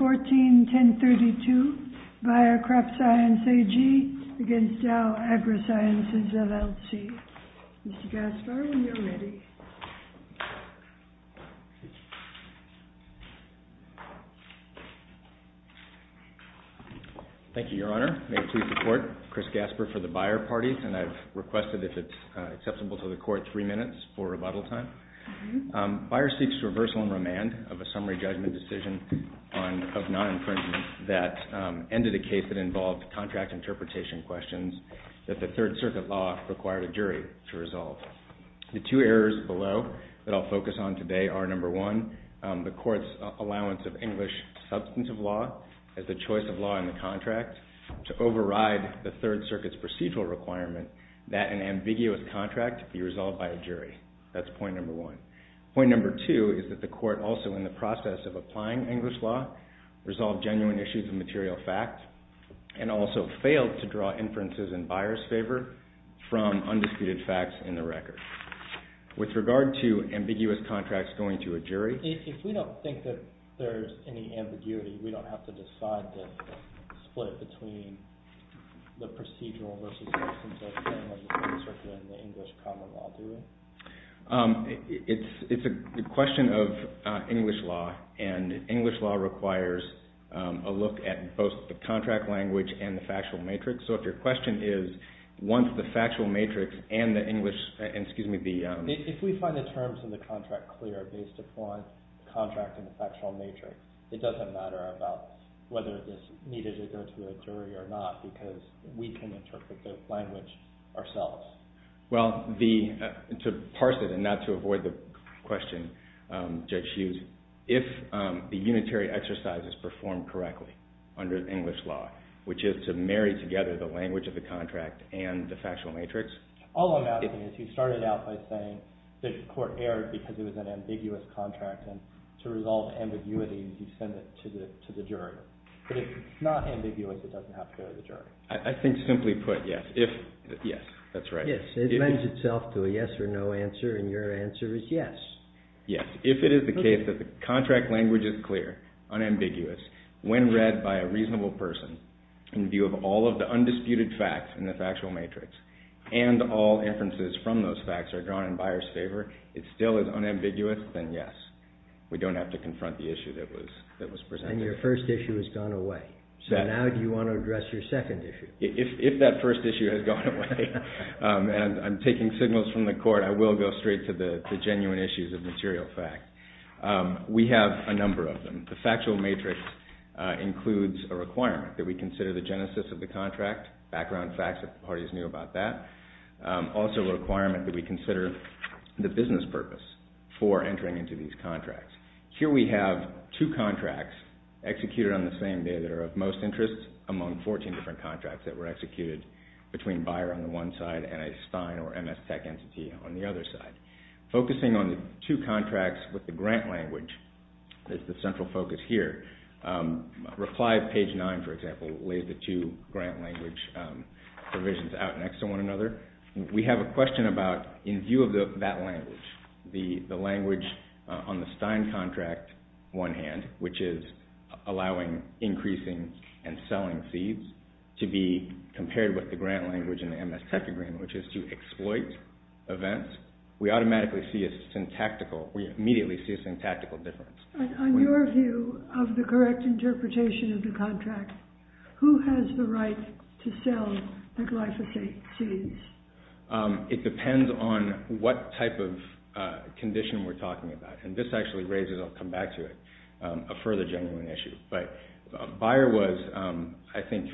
141032 Bayer CropScience AG v. Dow AgroSciences LLC Mr. Gaspar, when you're ready. Thank you, Your Honor. May it please the Court, Chris Gaspar for the Bayer party, and I've requested if it's acceptable to the Court, three minutes for rebuttal time. Bayer seeks reversal and remand of a summary judgment decision of non-infringement that ended a case that involved contract interpretation questions that the Third Circuit law required a jury to resolve. The two errors below that I'll focus on today are number one, the Court's allowance of English substantive law as the choice of law in the contract to override the Third Circuit's procedural requirement that an ambiguous contract be resolved by a jury. That's point number one. Point number two is that the Court, also in the process of applying English law, resolved genuine issues of material fact and also failed to draw inferences in Bayer's favor from undisputed facts in the record. With regard to ambiguous contracts going to a jury, it's a question of English law, and English law requires a look at both the contract language and the factual matrix. So if your question is, once the factual matrix and the English, excuse me, the… If we find the terms of the contract clear based upon the contract and the factual matrix, it doesn't matter about whether this needed to go to a jury or not because we can interpret the language ourselves. Well, to parse it and not to avoid the question, Judge Hughes, if the unitary exercise is performed correctly under English law, which is to marry together the language of the contract and the factual matrix… All I'm asking is you started out by saying that the Court erred because it was an ambiguous contract and to resolve ambiguities, you send it to the jury. But if it's not ambiguous, it doesn't have to go to the jury. I think simply put, yes. Yes, that's right. Yes. It lends itself to a yes or no answer, and your answer is yes. Yes. If it is the case that the contract language is clear, unambiguous, when read by a reasonable person in view of all of the undisputed facts in the factual matrix and all inferences from those facts are drawn in Bayer's favor, it still is unambiguous, then yes. We don't have to confront the issue that was presented. Then your first issue has gone away. So now do you want to address your second issue? If that first issue has gone away, and I'm taking signals from the Court, I will go straight to the genuine issues of material fact. We have a number of them. The factual matrix includes a requirement that we consider the genesis of the contract, background facts if the parties knew about that, also a requirement that we consider the business purpose for entering into these contracts. Here we have two contracts executed on the same day that are of most interest among 14 different contracts that were executed between Bayer on the one side and a Stein or MS Tech entity on the other side. Focusing on the two contracts with the grant language is the central focus here. Reply at page 9, for example, lays the two grant language provisions out next to one another. We have a question about, in view of that language, the language on the Stein contract one hand, which is allowing increasing and selling seeds, to be compared with the grant language in the MS Tech agreement, which is to exploit events. We automatically see a syntactical, we immediately see a syntactical difference. On your view of the correct interpretation of the contract, who has the right to sell the glyphosate seeds? It depends on what type of condition we're talking about. And this actually raises, I'll come back to it, a further genuine issue. But Bayer was, I think,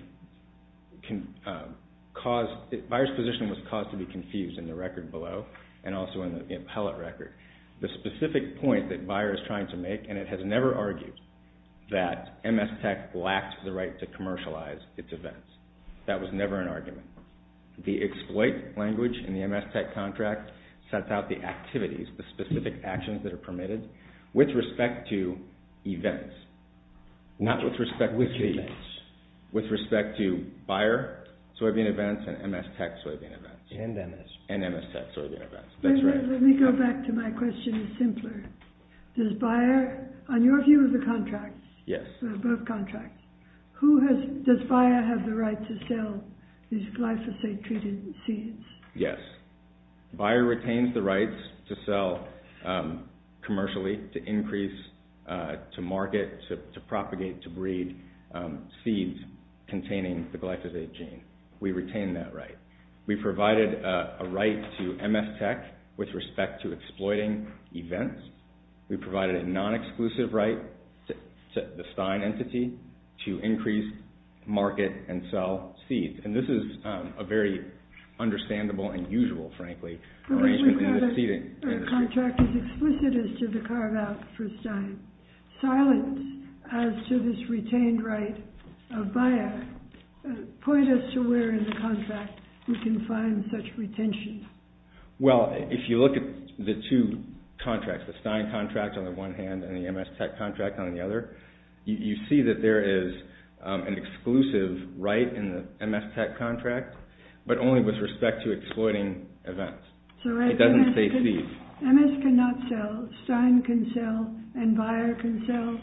caused, Bayer's position was caused to be confused in the record below and also in the appellate record. The specific point that Bayer is trying to make, and it has never argued, that MS Tech lacked the right to commercialize its events. That was never an argument. The exploit language in the MS Tech contract sets out the activities, the specific actions that are permitted, with respect to events. Not with respect to seeds. With respect to Bayer soybean events and MS Tech soybean events. And MS Tech. And MS Tech soybean events, that's right. Let me go back to my question simpler. Does Bayer, on your view of the contracts, both contracts, does Bayer have the right to sell these glyphosate-treated seeds? Yes. Bayer retains the rights to sell commercially, to increase, to market, to propagate, to breed seeds containing the glyphosate gene. We retain that right. We provided a right to MS Tech with respect to exploiting events. We provided a non-exclusive right to the Stein entity to increase, market, and sell seeds. And this is a very understandable and usual, frankly, arrangement in the seed industry. The contract is explicit as to the carve-out for Stein. Silence as to this retained right of Bayer, point us to where in the contract we can find such retention. Well, if you look at the two contracts, the Stein contract on the one hand and the MS Tech contract on the other, you see that there is an exclusive right in the MS Tech contract, but only with respect to exploiting events. MS cannot sell, Stein can sell, and Bayer can sell?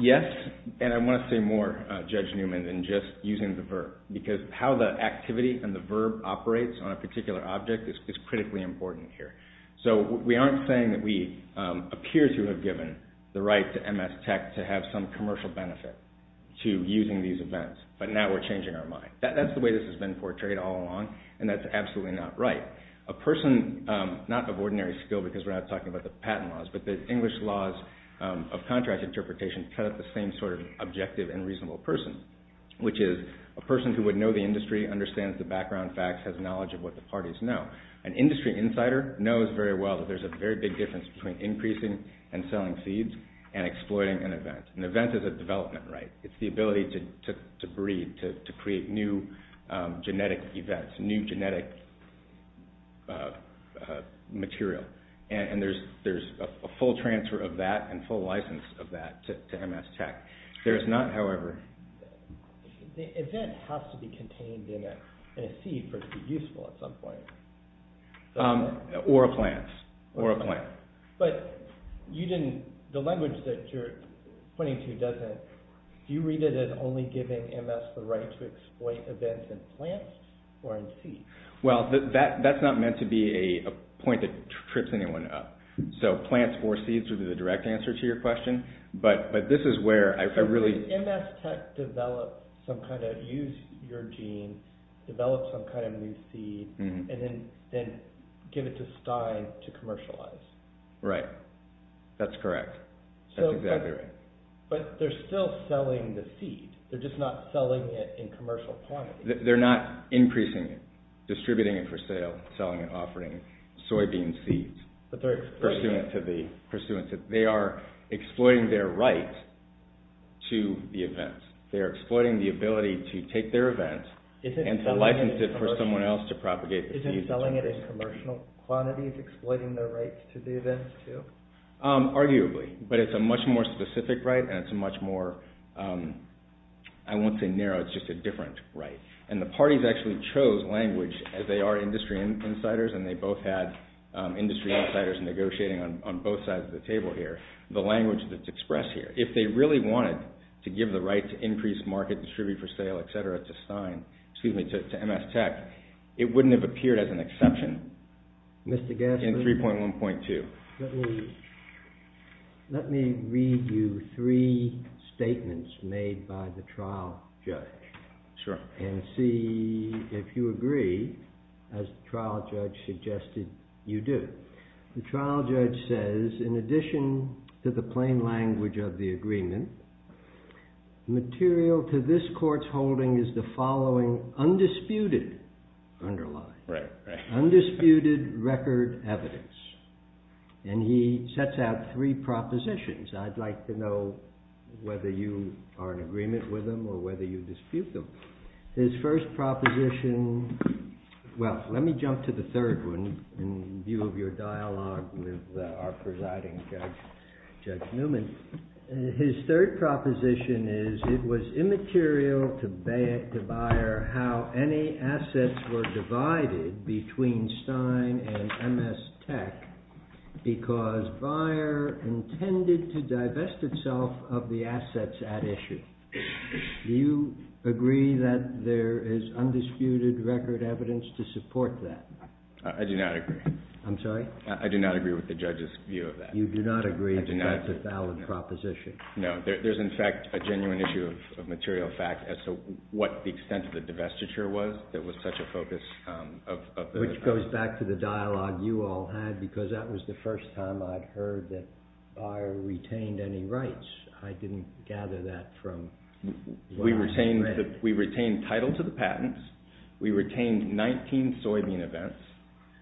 Yes, and I want to say more, Judge Newman, than just using the verb, because how the activity and the verb operates on a particular object is critically important here. So we aren't saying that we appear to have given the right to MS Tech to have some commercial benefit to using these events, but now we're changing our mind. That's the way this has been portrayed all along, and that's absolutely not right. A person, not of ordinary skill because we're not talking about the patent laws, but the English laws of contract interpretation cut up the same sort of objective and reasonable person, which is a person who would know the industry, understands the background facts, has knowledge of what the parties know. An industry insider knows very well that there's a very big difference between increasing and selling seeds and exploiting an event. An event is a development right. It's the ability to breed, to create new genetic events, new genetic material, and there's a full transfer of that and full license of that to MS Tech. There is not, however… The event has to be contained in a seed for it to be useful at some point. Or a plant. Or a plant. But the language that you're pointing to doesn't… Do you read it as only giving MS the right to exploit events in plants or in seeds? Well, that's not meant to be a point that trips anyone up. So plants or seeds would be the direct answer to your question, but this is where I really… Use your gene, develop some kind of new seed, and then give it to Stein to commercialize. Right. That's correct. That's exactly right. But they're still selling the seed. They're just not selling it in commercial quantity. They're not increasing it, distributing it for sale, selling it, offering soybean seeds. But they're exploiting it. To the events. They're exploiting the ability to take their events and to license it for someone else to propagate the seeds. Isn't selling it in commercial quantities exploiting their right to do this, too? Arguably. But it's a much more specific right, and it's a much more… I won't say narrow, it's just a different right. And the parties actually chose language, as they are industry insiders, and they both had industry insiders negotiating on both sides of the table here, the language that's expressed here. If they really wanted to give the right to increase market, distribute for sale, etc. to Stein, excuse me, to MS Tech, it wouldn't have appeared as an exception in 3.1.2. Let me read you three statements made by the trial judge. Sure. And see if you agree, as the trial judge suggested you do. The trial judge says, in addition to the plain language of the agreement, material to this court's holding is the following undisputed underline. Right, right. Undisputed record evidence. And he sets out three propositions. I'd like to know whether you are in agreement with them or whether you dispute them. His first proposition… Well, let me jump to the third one in view of your dialogue with our presiding judge, Judge Newman. His third proposition is, it was immaterial to Bayer how any assets were divided between Stein and MS Tech because Bayer intended to divest itself of the assets at issue. Do you agree that there is undisputed record evidence to support that? I do not agree. I'm sorry? I do not agree with the judge's view of that. You do not agree that that's a valid proposition? No, there's in fact a genuine issue of material fact as to what the extent of the divestiture was that was such a focus of… Which goes back to the dialogue you all had because that was the first time I'd heard that Bayer retained any rights. I didn't gather that from… We retained title to the patents. We retained 19 soybean events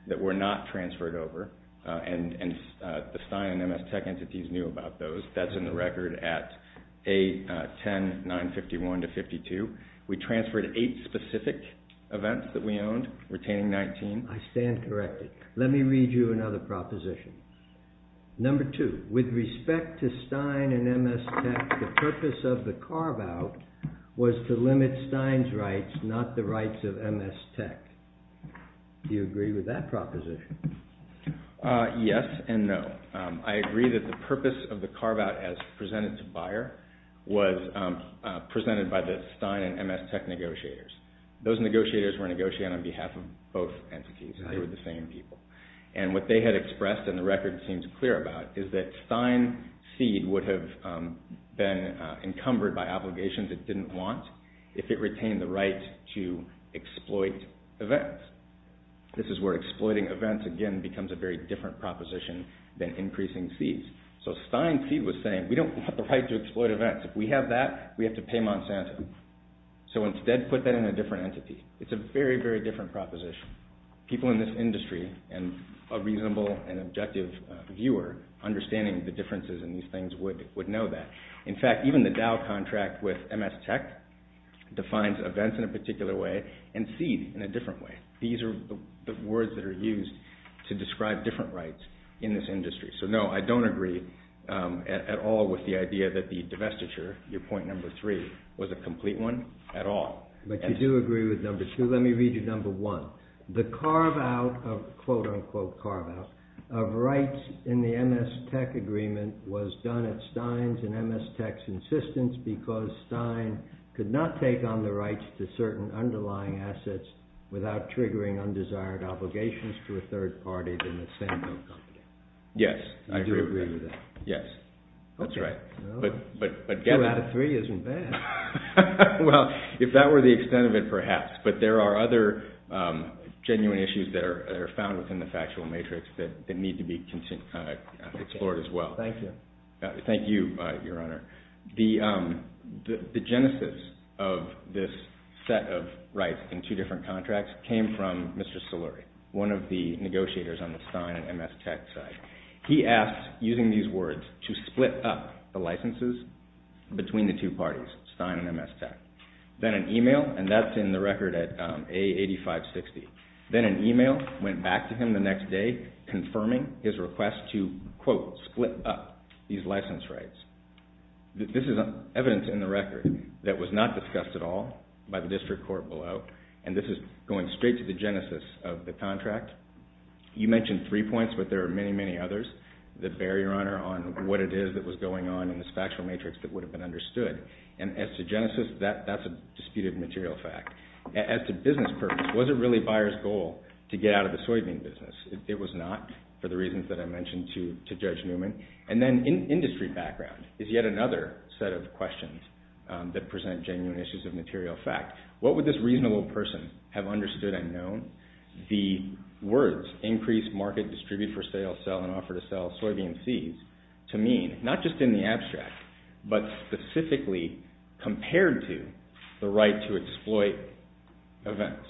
that were not transferred over, and the Stein and MS Tech entities knew about those. That's in the record at A10-951-52. We transferred eight specific events that we owned, retaining 19. I stand corrected. Let me read you another proposition. Number two, with respect to Stein and MS Tech, the purpose of the carve-out was to limit Stein's rights, not the rights of MS Tech. Do you agree with that proposition? Yes and no. I agree that the purpose of the carve-out as presented to Bayer was presented by the Stein and MS Tech negotiators. Those negotiators were negotiating on behalf of both entities. They were the same people. What they had expressed, and the record seems clear about, is that Stein seed would have been encumbered by obligations it didn't want if it retained the right to exploit events. This is where exploiting events, again, becomes a very different proposition than increasing seeds. Stein seed was saying, we don't want the right to exploit events. If we have that, we have to pay Monsanto. Instead, put that in a different entity. It's a very, very different proposition. People in this industry and a reasonable and objective viewer understanding the differences in these things would know that. In fact, even the Dow contract with MS Tech defines events in a particular way and seed in a different way. These are the words that are used to describe different rights in this industry. So no, I don't agree at all with the idea that the divestiture, your point number three, was a complete one at all. But you do agree with number two. Let me read you number one. The carve out of, quote unquote, carve out, of rights in the MS Tech agreement was done at Stein's and MS Tech's insistence because Stein could not take on the rights to certain underlying assets without triggering undesired obligations to a third party than the sample company. Yes, I agree with that. You do agree with that? Yes. That's right. Two out of three isn't bad. Well, if that were the extent of it, perhaps. But there are other genuine issues that are found within the factual matrix that need to be explored as well. Thank you. Thank you, Your Honor. The genesis of this set of rights in two different contracts came from Mr. Saluri, one of the negotiators on the Stein and MS Tech side. He asked, using these words, to split up the licenses between the two parties, Stein and MS Tech. Then an email, and that's in the record at A8560. Then an email went back to him the next day confirming his request to, quote, split up these license rights. This is evidence in the record that was not discussed at all by the district court below, and this is going straight to the genesis of the contract. You mentioned three points, but there are many, many others that bear, Your Honor, on what it is that was going on in this factual matrix that would have been understood. And as to genesis, that's a disputed material fact. As to business purpose, was it really buyer's goal to get out of the soybean business? It was not for the reasons that I mentioned to Judge Newman. And then industry background is yet another set of questions that present genuine issues of material fact. What would this reasonable person have understood and known? The words, increase, market, distribute, for sale, sell, and offer to sell soybean seeds, to mean, not just in the abstract, but specifically compared to the right to exploit events.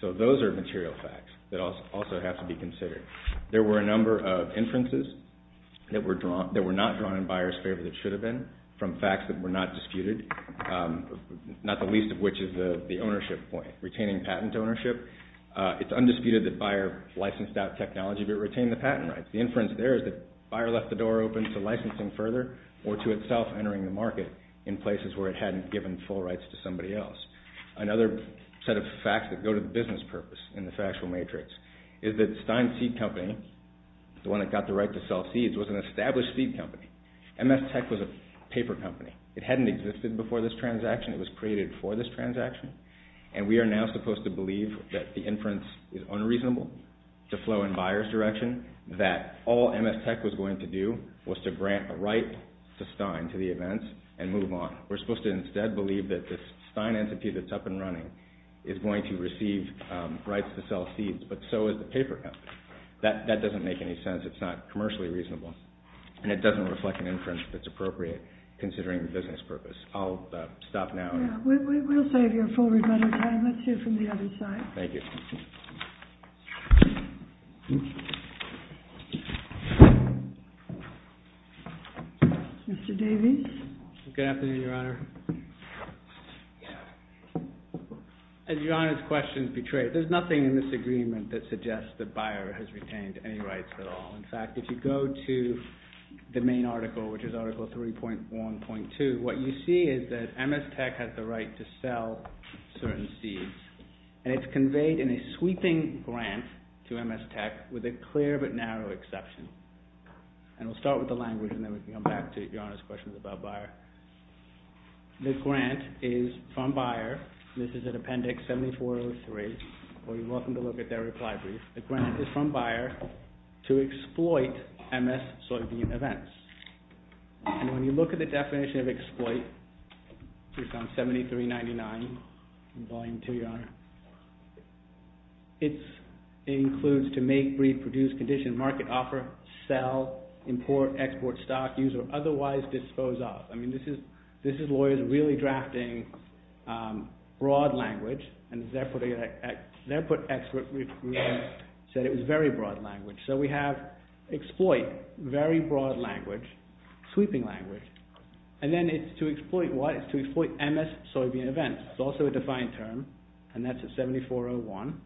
So those are material facts that also have to be considered. There were a number of inferences that were not drawn in buyer's favor that should have been from facts that were not disputed, not the least of which is the ownership point, retaining patent ownership. It's undisputed that buyer licensed out technology, but retained the patent rights. The inference there is that buyer left the door open to licensing further or to itself entering the market in places where it hadn't given full rights to somebody else. Another set of facts that go to the business purpose in the factual matrix is that Stein Seed Company, the one that got the right to sell seeds, was an established seed company. MS Tech was a paper company. It hadn't existed before this transaction. It was created for this transaction. And we are now supposed to believe that the inference is unreasonable to flow in buyer's direction, that all MS Tech was going to do was to grant a right to Stein to the events and move on. We're supposed to instead believe that this Stein entity that's up and running is going to receive rights to sell seeds, but so is the paper company. That doesn't make any sense. It's not commercially reasonable. And it doesn't reflect an inference that's appropriate considering the business purpose. I'll stop now. We'll save you a full amount of time. Let's hear from the other side. Thank you. Mr. Davies. Good afternoon, Your Honor. As Your Honor's question portrayed, there's nothing in this agreement that suggests that buyer has retained any rights at all. In fact, if you go to the main article, which is Article 3.1.2, what you see is that MS Tech has the right to sell certain seeds. And it's conveyed in a sweeping grant to MS Tech with a clear but narrow exception. And we'll start with the language and then we can come back to Your Honor's questions about buyer. The grant is from buyer. This is in Appendix 7403. You're welcome to look at their reply brief. The grant is from buyer to exploit MS soybean events. And when you look at the definition of exploit, which is on 7399, Volume 2, Your Honor, it includes to make, breed, produce, condition, market, offer, sell, import, export, stock, use, or otherwise dispose of. I mean, this is lawyers really drafting broad language and their put expert said it was very broad language. So we have exploit, very broad language, sweeping language. And then it's to exploit what? It's to exploit MS soybean events. It's also a defined term and that's at 7401.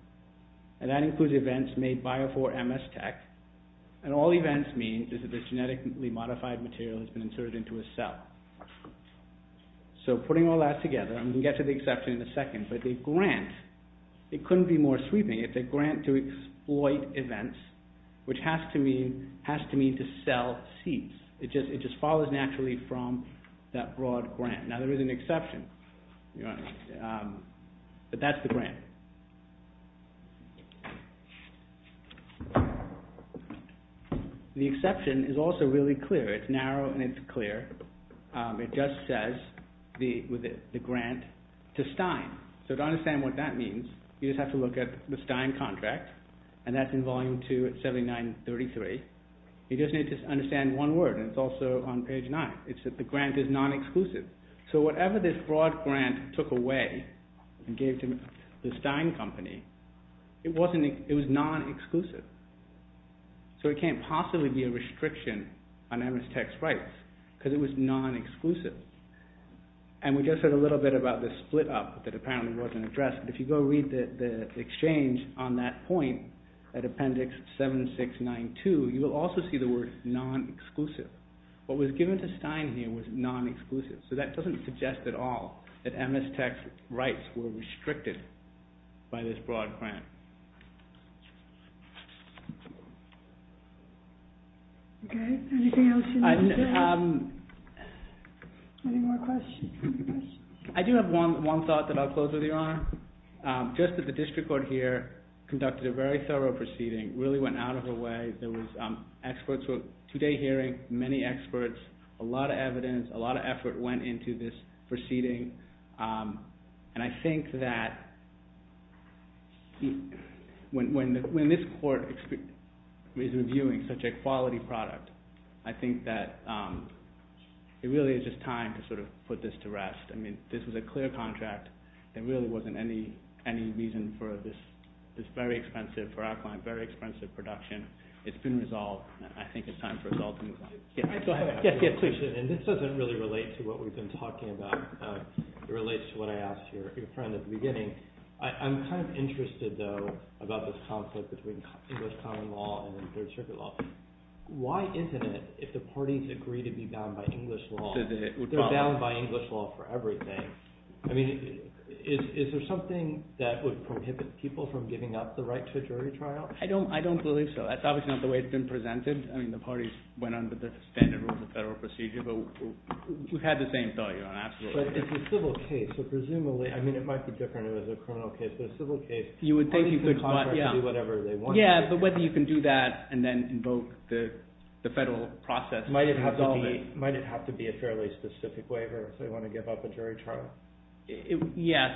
And that includes events made by or for MS Tech. And all events mean is that this genetically modified material has been inserted into a cell. So putting all that together, and we'll get to the exception in a second, but the grant, it couldn't be more sweeping. It's a grant to exploit events, which has to mean to sell seeds. It just follows naturally from that broad grant. Now, there is an exception, but that's the grant. The exception is also really clear. It's narrow and it's clear. It just says the grant to Stein. So to understand what that means, you just have to look at the Stein contract, and that's in Volume 2 at 7933. You just need to understand one word, and it's also on page 9. It's that the grant is non-exclusive. So whatever this broad grant took away and gave to the Stein Company, it was non-exclusive. So it can't possibly be a restriction on MS Tech's rights because it was non-exclusive. And we just heard a little bit about the split up that apparently wasn't addressed. But if you go read the exchange on that point at Appendix 7692, you will also see the word non-exclusive. What was given to Stein here was non-exclusive. So that doesn't suggest at all that MS Tech's rights were restricted by this broad grant. Okay, anything else you want to say? Any more questions? I do have one thought that I'll close with, Your Honor. Just that the district court here conducted a very thorough proceeding, really went out of the way. There was two-day hearing, many experts, a lot of evidence, a lot of effort went into this proceeding. And I think that when this court is reviewing such a quality product, I think that it really is just time to sort of put this to rest. I mean, this was a clear contract. There really wasn't any reason for this very expensive production. It's been resolved, and I think it's time for us all to move on. This doesn't really relate to what we've been talking about. It relates to what I asked your friend at the beginning. I'm kind of interested, though, about this conflict between English common law and third circuit law. Why isn't it, if the parties agree to be bound by English law, they're bound by English law for everything. I mean, is there something that would prohibit people from giving up the right to a jury trial? I don't believe so. That's obviously not the way it's been presented. I mean, the parties went under the standard rules of federal procedure, but we've had the same thought, Your Honor, absolutely. But it's a civil case, so presumably, I mean, it might be different if it was a criminal case, but a civil case, parties can contract to do whatever they want. Yeah, but whether you can do that and then invoke the federal process to resolve it. Might it have to be a fairly specific waiver if they want to give up a jury trial? Yes.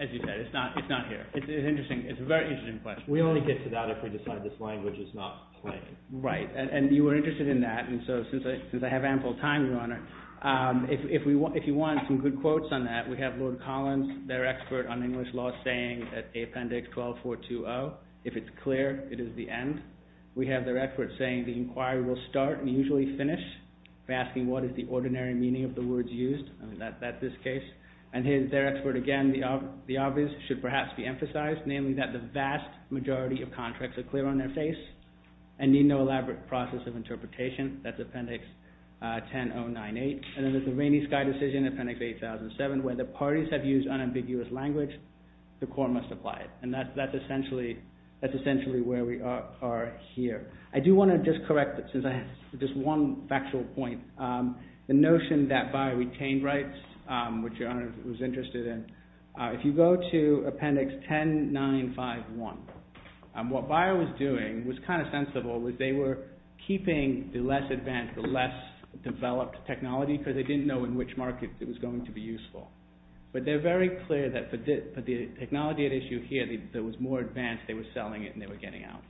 As you said, it's not here. It's interesting. It's a very interesting question. We only get to that if we decide this language is not plain. Right, and you were interested in that, and so since I have ample time, Your Honor, if you want some good quotes on that, we have Lord Collins, their expert on English law, saying that Appendix 12420, if it's clear, it is the end. We have their expert saying the inquiry will start and usually finish, asking what is the ordinary meaning of the words used. I mean, that's this case. And their expert again, the obvious should perhaps be emphasized, namely that the vast majority of contracts are clear on their face and need no elaborate process of interpretation. That's Appendix 10098. And then there's the Rainy Sky Decision, Appendix 8007, where the parties have used unambiguous language. The court must apply it. And that's essentially where we are here. I do want to just correct, since I have just one factual point, the notion that Bayer retained rights, which Your Honor was interested in. If you go to Appendix 10951, what Bayer was doing was kind of sensible. They were keeping the less advanced, the less developed technology because they didn't know in which market it was going to be useful. But they're very clear that for the technology at issue here that was more advanced, they were selling it and they were getting out.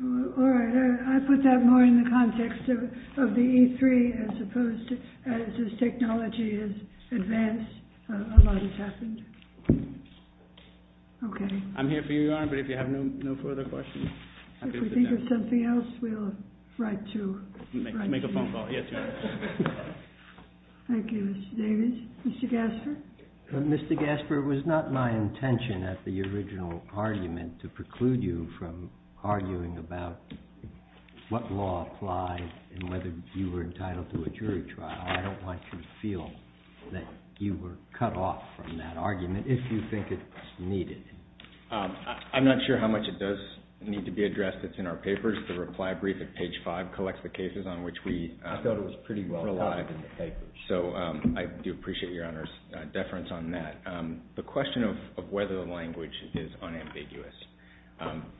All right. I put that more in the context of the E3 as opposed to as this technology is advanced, a lot has happened. Okay. I'm here for you, Your Honor, but if you have no further questions. If we think of something else, we'll write to you. Make a phone call. Yes, Your Honor. Thank you, Mr. Davis. Mr. Gasper? Mr. Gasper, it was not my intention at the original argument to preclude you from arguing about what law applies and whether you were entitled to a jury trial. I don't want you to feel that you were cut off from that argument if you think it's needed. I'm not sure how much it does need to be addressed. It's in our papers. The reply brief at page 5 collects the cases on which we relied. I thought it was pretty well-written in the papers. So I do appreciate Your Honor's deference on that. The question of whether the language is unambiguous,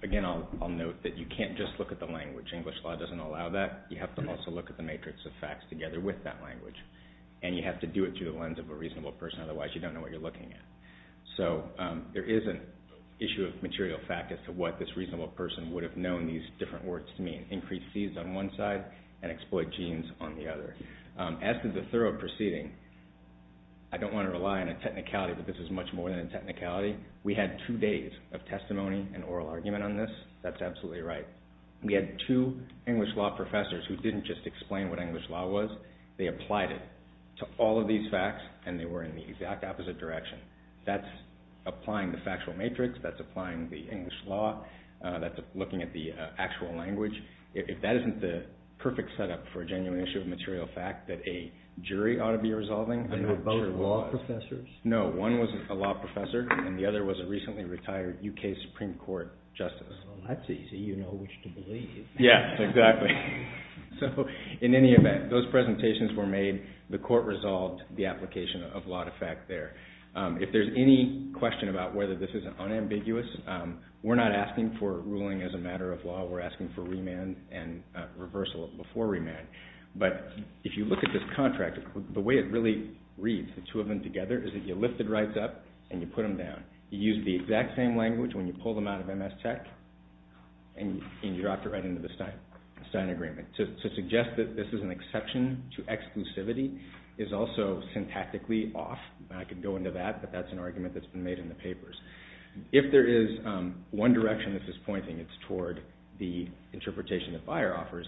again, I'll note that you can't just look at the language. English law doesn't allow that. You have to also look at the matrix of facts together with that language, and you have to do it through the lens of a reasonable person. Otherwise, you don't know what you're looking at. So there is an issue of material fact as to what this reasonable person would have known these different words to mean. Increase seeds on one side and exploit genes on the other. As to the thorough proceeding, I don't want to rely on a technicality, but this is much more than a technicality. We had two days of testimony and oral argument on this. That's absolutely right. We had two English law professors who didn't just explain what English law was. They applied it to all of these facts, and they were in the exact opposite direction. That's applying the factual matrix. That's applying the English law. That's looking at the actual language. If that isn't the perfect setup for a genuine issue of material fact that a jury ought to be resolving. They were both law professors? No, one was a law professor, and the other was a recently retired U.K. Supreme Court justice. Well, that's easy. You know which to believe. Yeah, exactly. So in any event, those presentations were made. The court resolved the application of law to fact there. If there's any question about whether this is unambiguous, we're not asking for ruling as a matter of law. We're asking for remand and reversal before remand. But if you look at this contract, the way it really reads, the two of them together, is that you lift the rights up and you put them down. You use the exact same language when you pull them out of MS Tech, and you drop it right into the Stein agreement. To suggest that this is an exception to exclusivity is also syntactically off. I could go into that, but that's an argument that's been made in the papers. If there is one direction this is pointing, it's toward the interpretation that Beyer offers.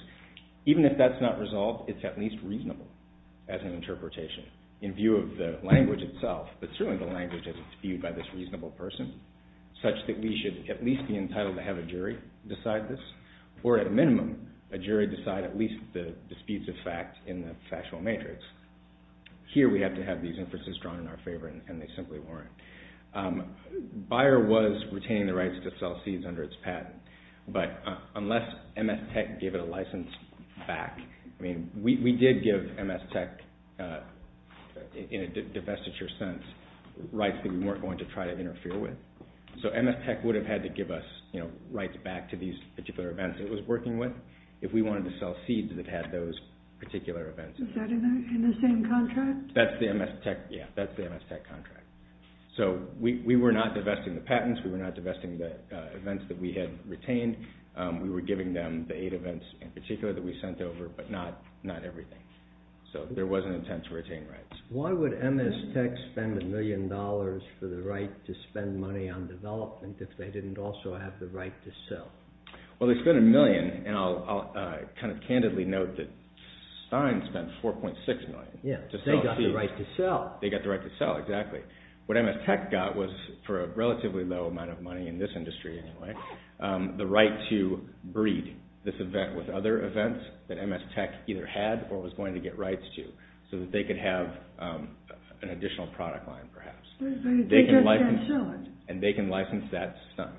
Even if that's not resolved, it's at least reasonable as an interpretation in view of the language itself. But certainly the language is viewed by this reasonable person, such that we should at least be entitled to have a jury decide this, or at minimum, a jury decide at least the disputes of fact in the factual matrix. Here we have to have these inferences drawn in our favor, and they simply weren't. Beyer was retaining the rights to sell seeds under its patent, but unless MS Tech gave it a license back, we did give MS Tech, in a divestiture sense, rights that we weren't going to try to interfere with. So MS Tech would have had to give us rights back to these particular events it was working with if we wanted to sell seeds that had those particular events. Is that in the same contract? That's the MS Tech contract. So we were not divesting the patents, we were not divesting the events that we had retained. We were giving them the eight events in particular that we sent over, but not everything. So there was an intent to retain rights. Why would MS Tech spend a million dollars for the right to spend money on development if they didn't also have the right to sell? Well, they spent a million, and I'll kind of candidly note that Stein spent $4.6 million to sell seeds. Yes, they got the right to sell. They got the right to sell, exactly. What MS Tech got was, for a relatively low amount of money in this industry anyway, the right to breed this event with other events that MS Tech either had or was going to get rights to so that they could have an additional product line, perhaps. They just can't sell it. And they can license that to Stein.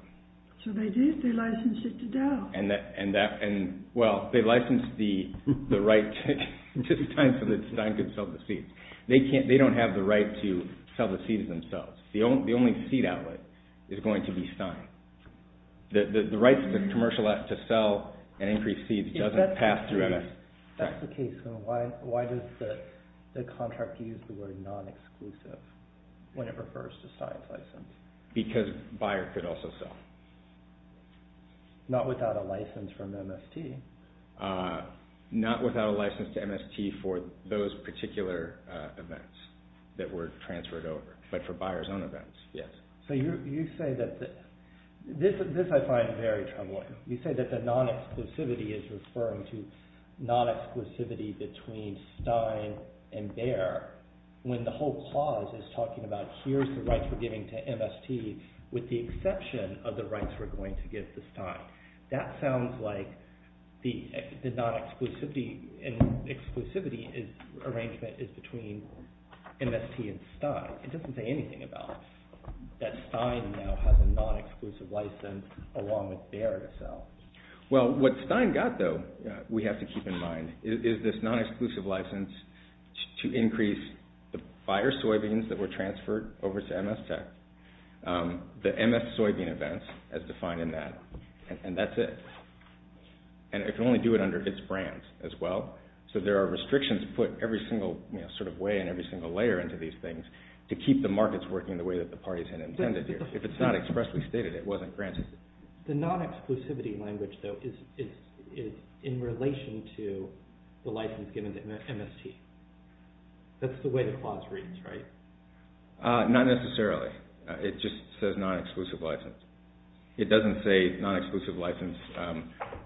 So they did, they licensed it to Dow. Well, they licensed the right to Stein so that Stein could sell the seeds. They don't have the right to sell the seeds themselves. The only seed outlet is going to be Stein. The commercial right to sell and increase seeds doesn't pass through MS Tech. That's the case. Why does the contract use the word non-exclusive when it refers to Stein's license? Because a buyer could also sell. Not without a license from MST. Not without a license to MST for those particular events that were transferred over. But for buyer's own events. Yes. So you say that this I find very troubling. You say that the non-exclusivity is referring to non-exclusivity between Stein and Bayer when the whole clause is talking about here's the rights we're giving to MST with the exception of the rights we're going to give to Stein. That sounds like the non-exclusivity arrangement is between MST and Stein. It doesn't say anything about that Stein now has a non-exclusive license along with Bayer to sell. Well, what Stein got, though, we have to keep in mind, is this non-exclusive license to increase the buyer soybeans that were transferred over to MST. The MS soybean events as defined in that. And that's it. And it can only do it under its brand as well. So there are restrictions put every single sort of way and every single layer into these things to keep the markets working the way that the parties had intended here. If it's not expressly stated, it wasn't granted. The non-exclusivity language, though, is in relation to the license given to MST. That's the way the clause reads, right? Not necessarily. It just says non-exclusive license. It doesn't say non-exclusive license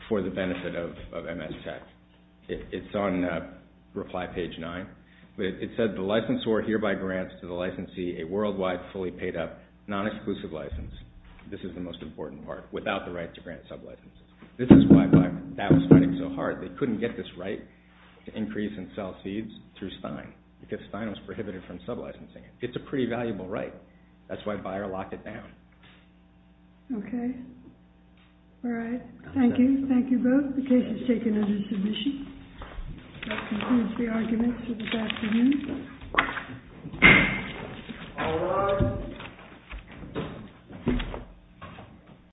for the benefit of MST. It's on reply page 9. It says the licensor hereby grants to the licensee a worldwide fully paid up non-exclusive license. This is the most important part, without the right to grant sub-licenses. This is why Bayer was fighting so hard. They couldn't get this right to increase and sell seeds through Stein because Stein was prohibited from sub-licensing it. It's a pretty valuable right. That's why Bayer locked it down. Okay. All right. Thank you. Thank you both. The case is taken under submission. That concludes the arguments for this afternoon. All rise.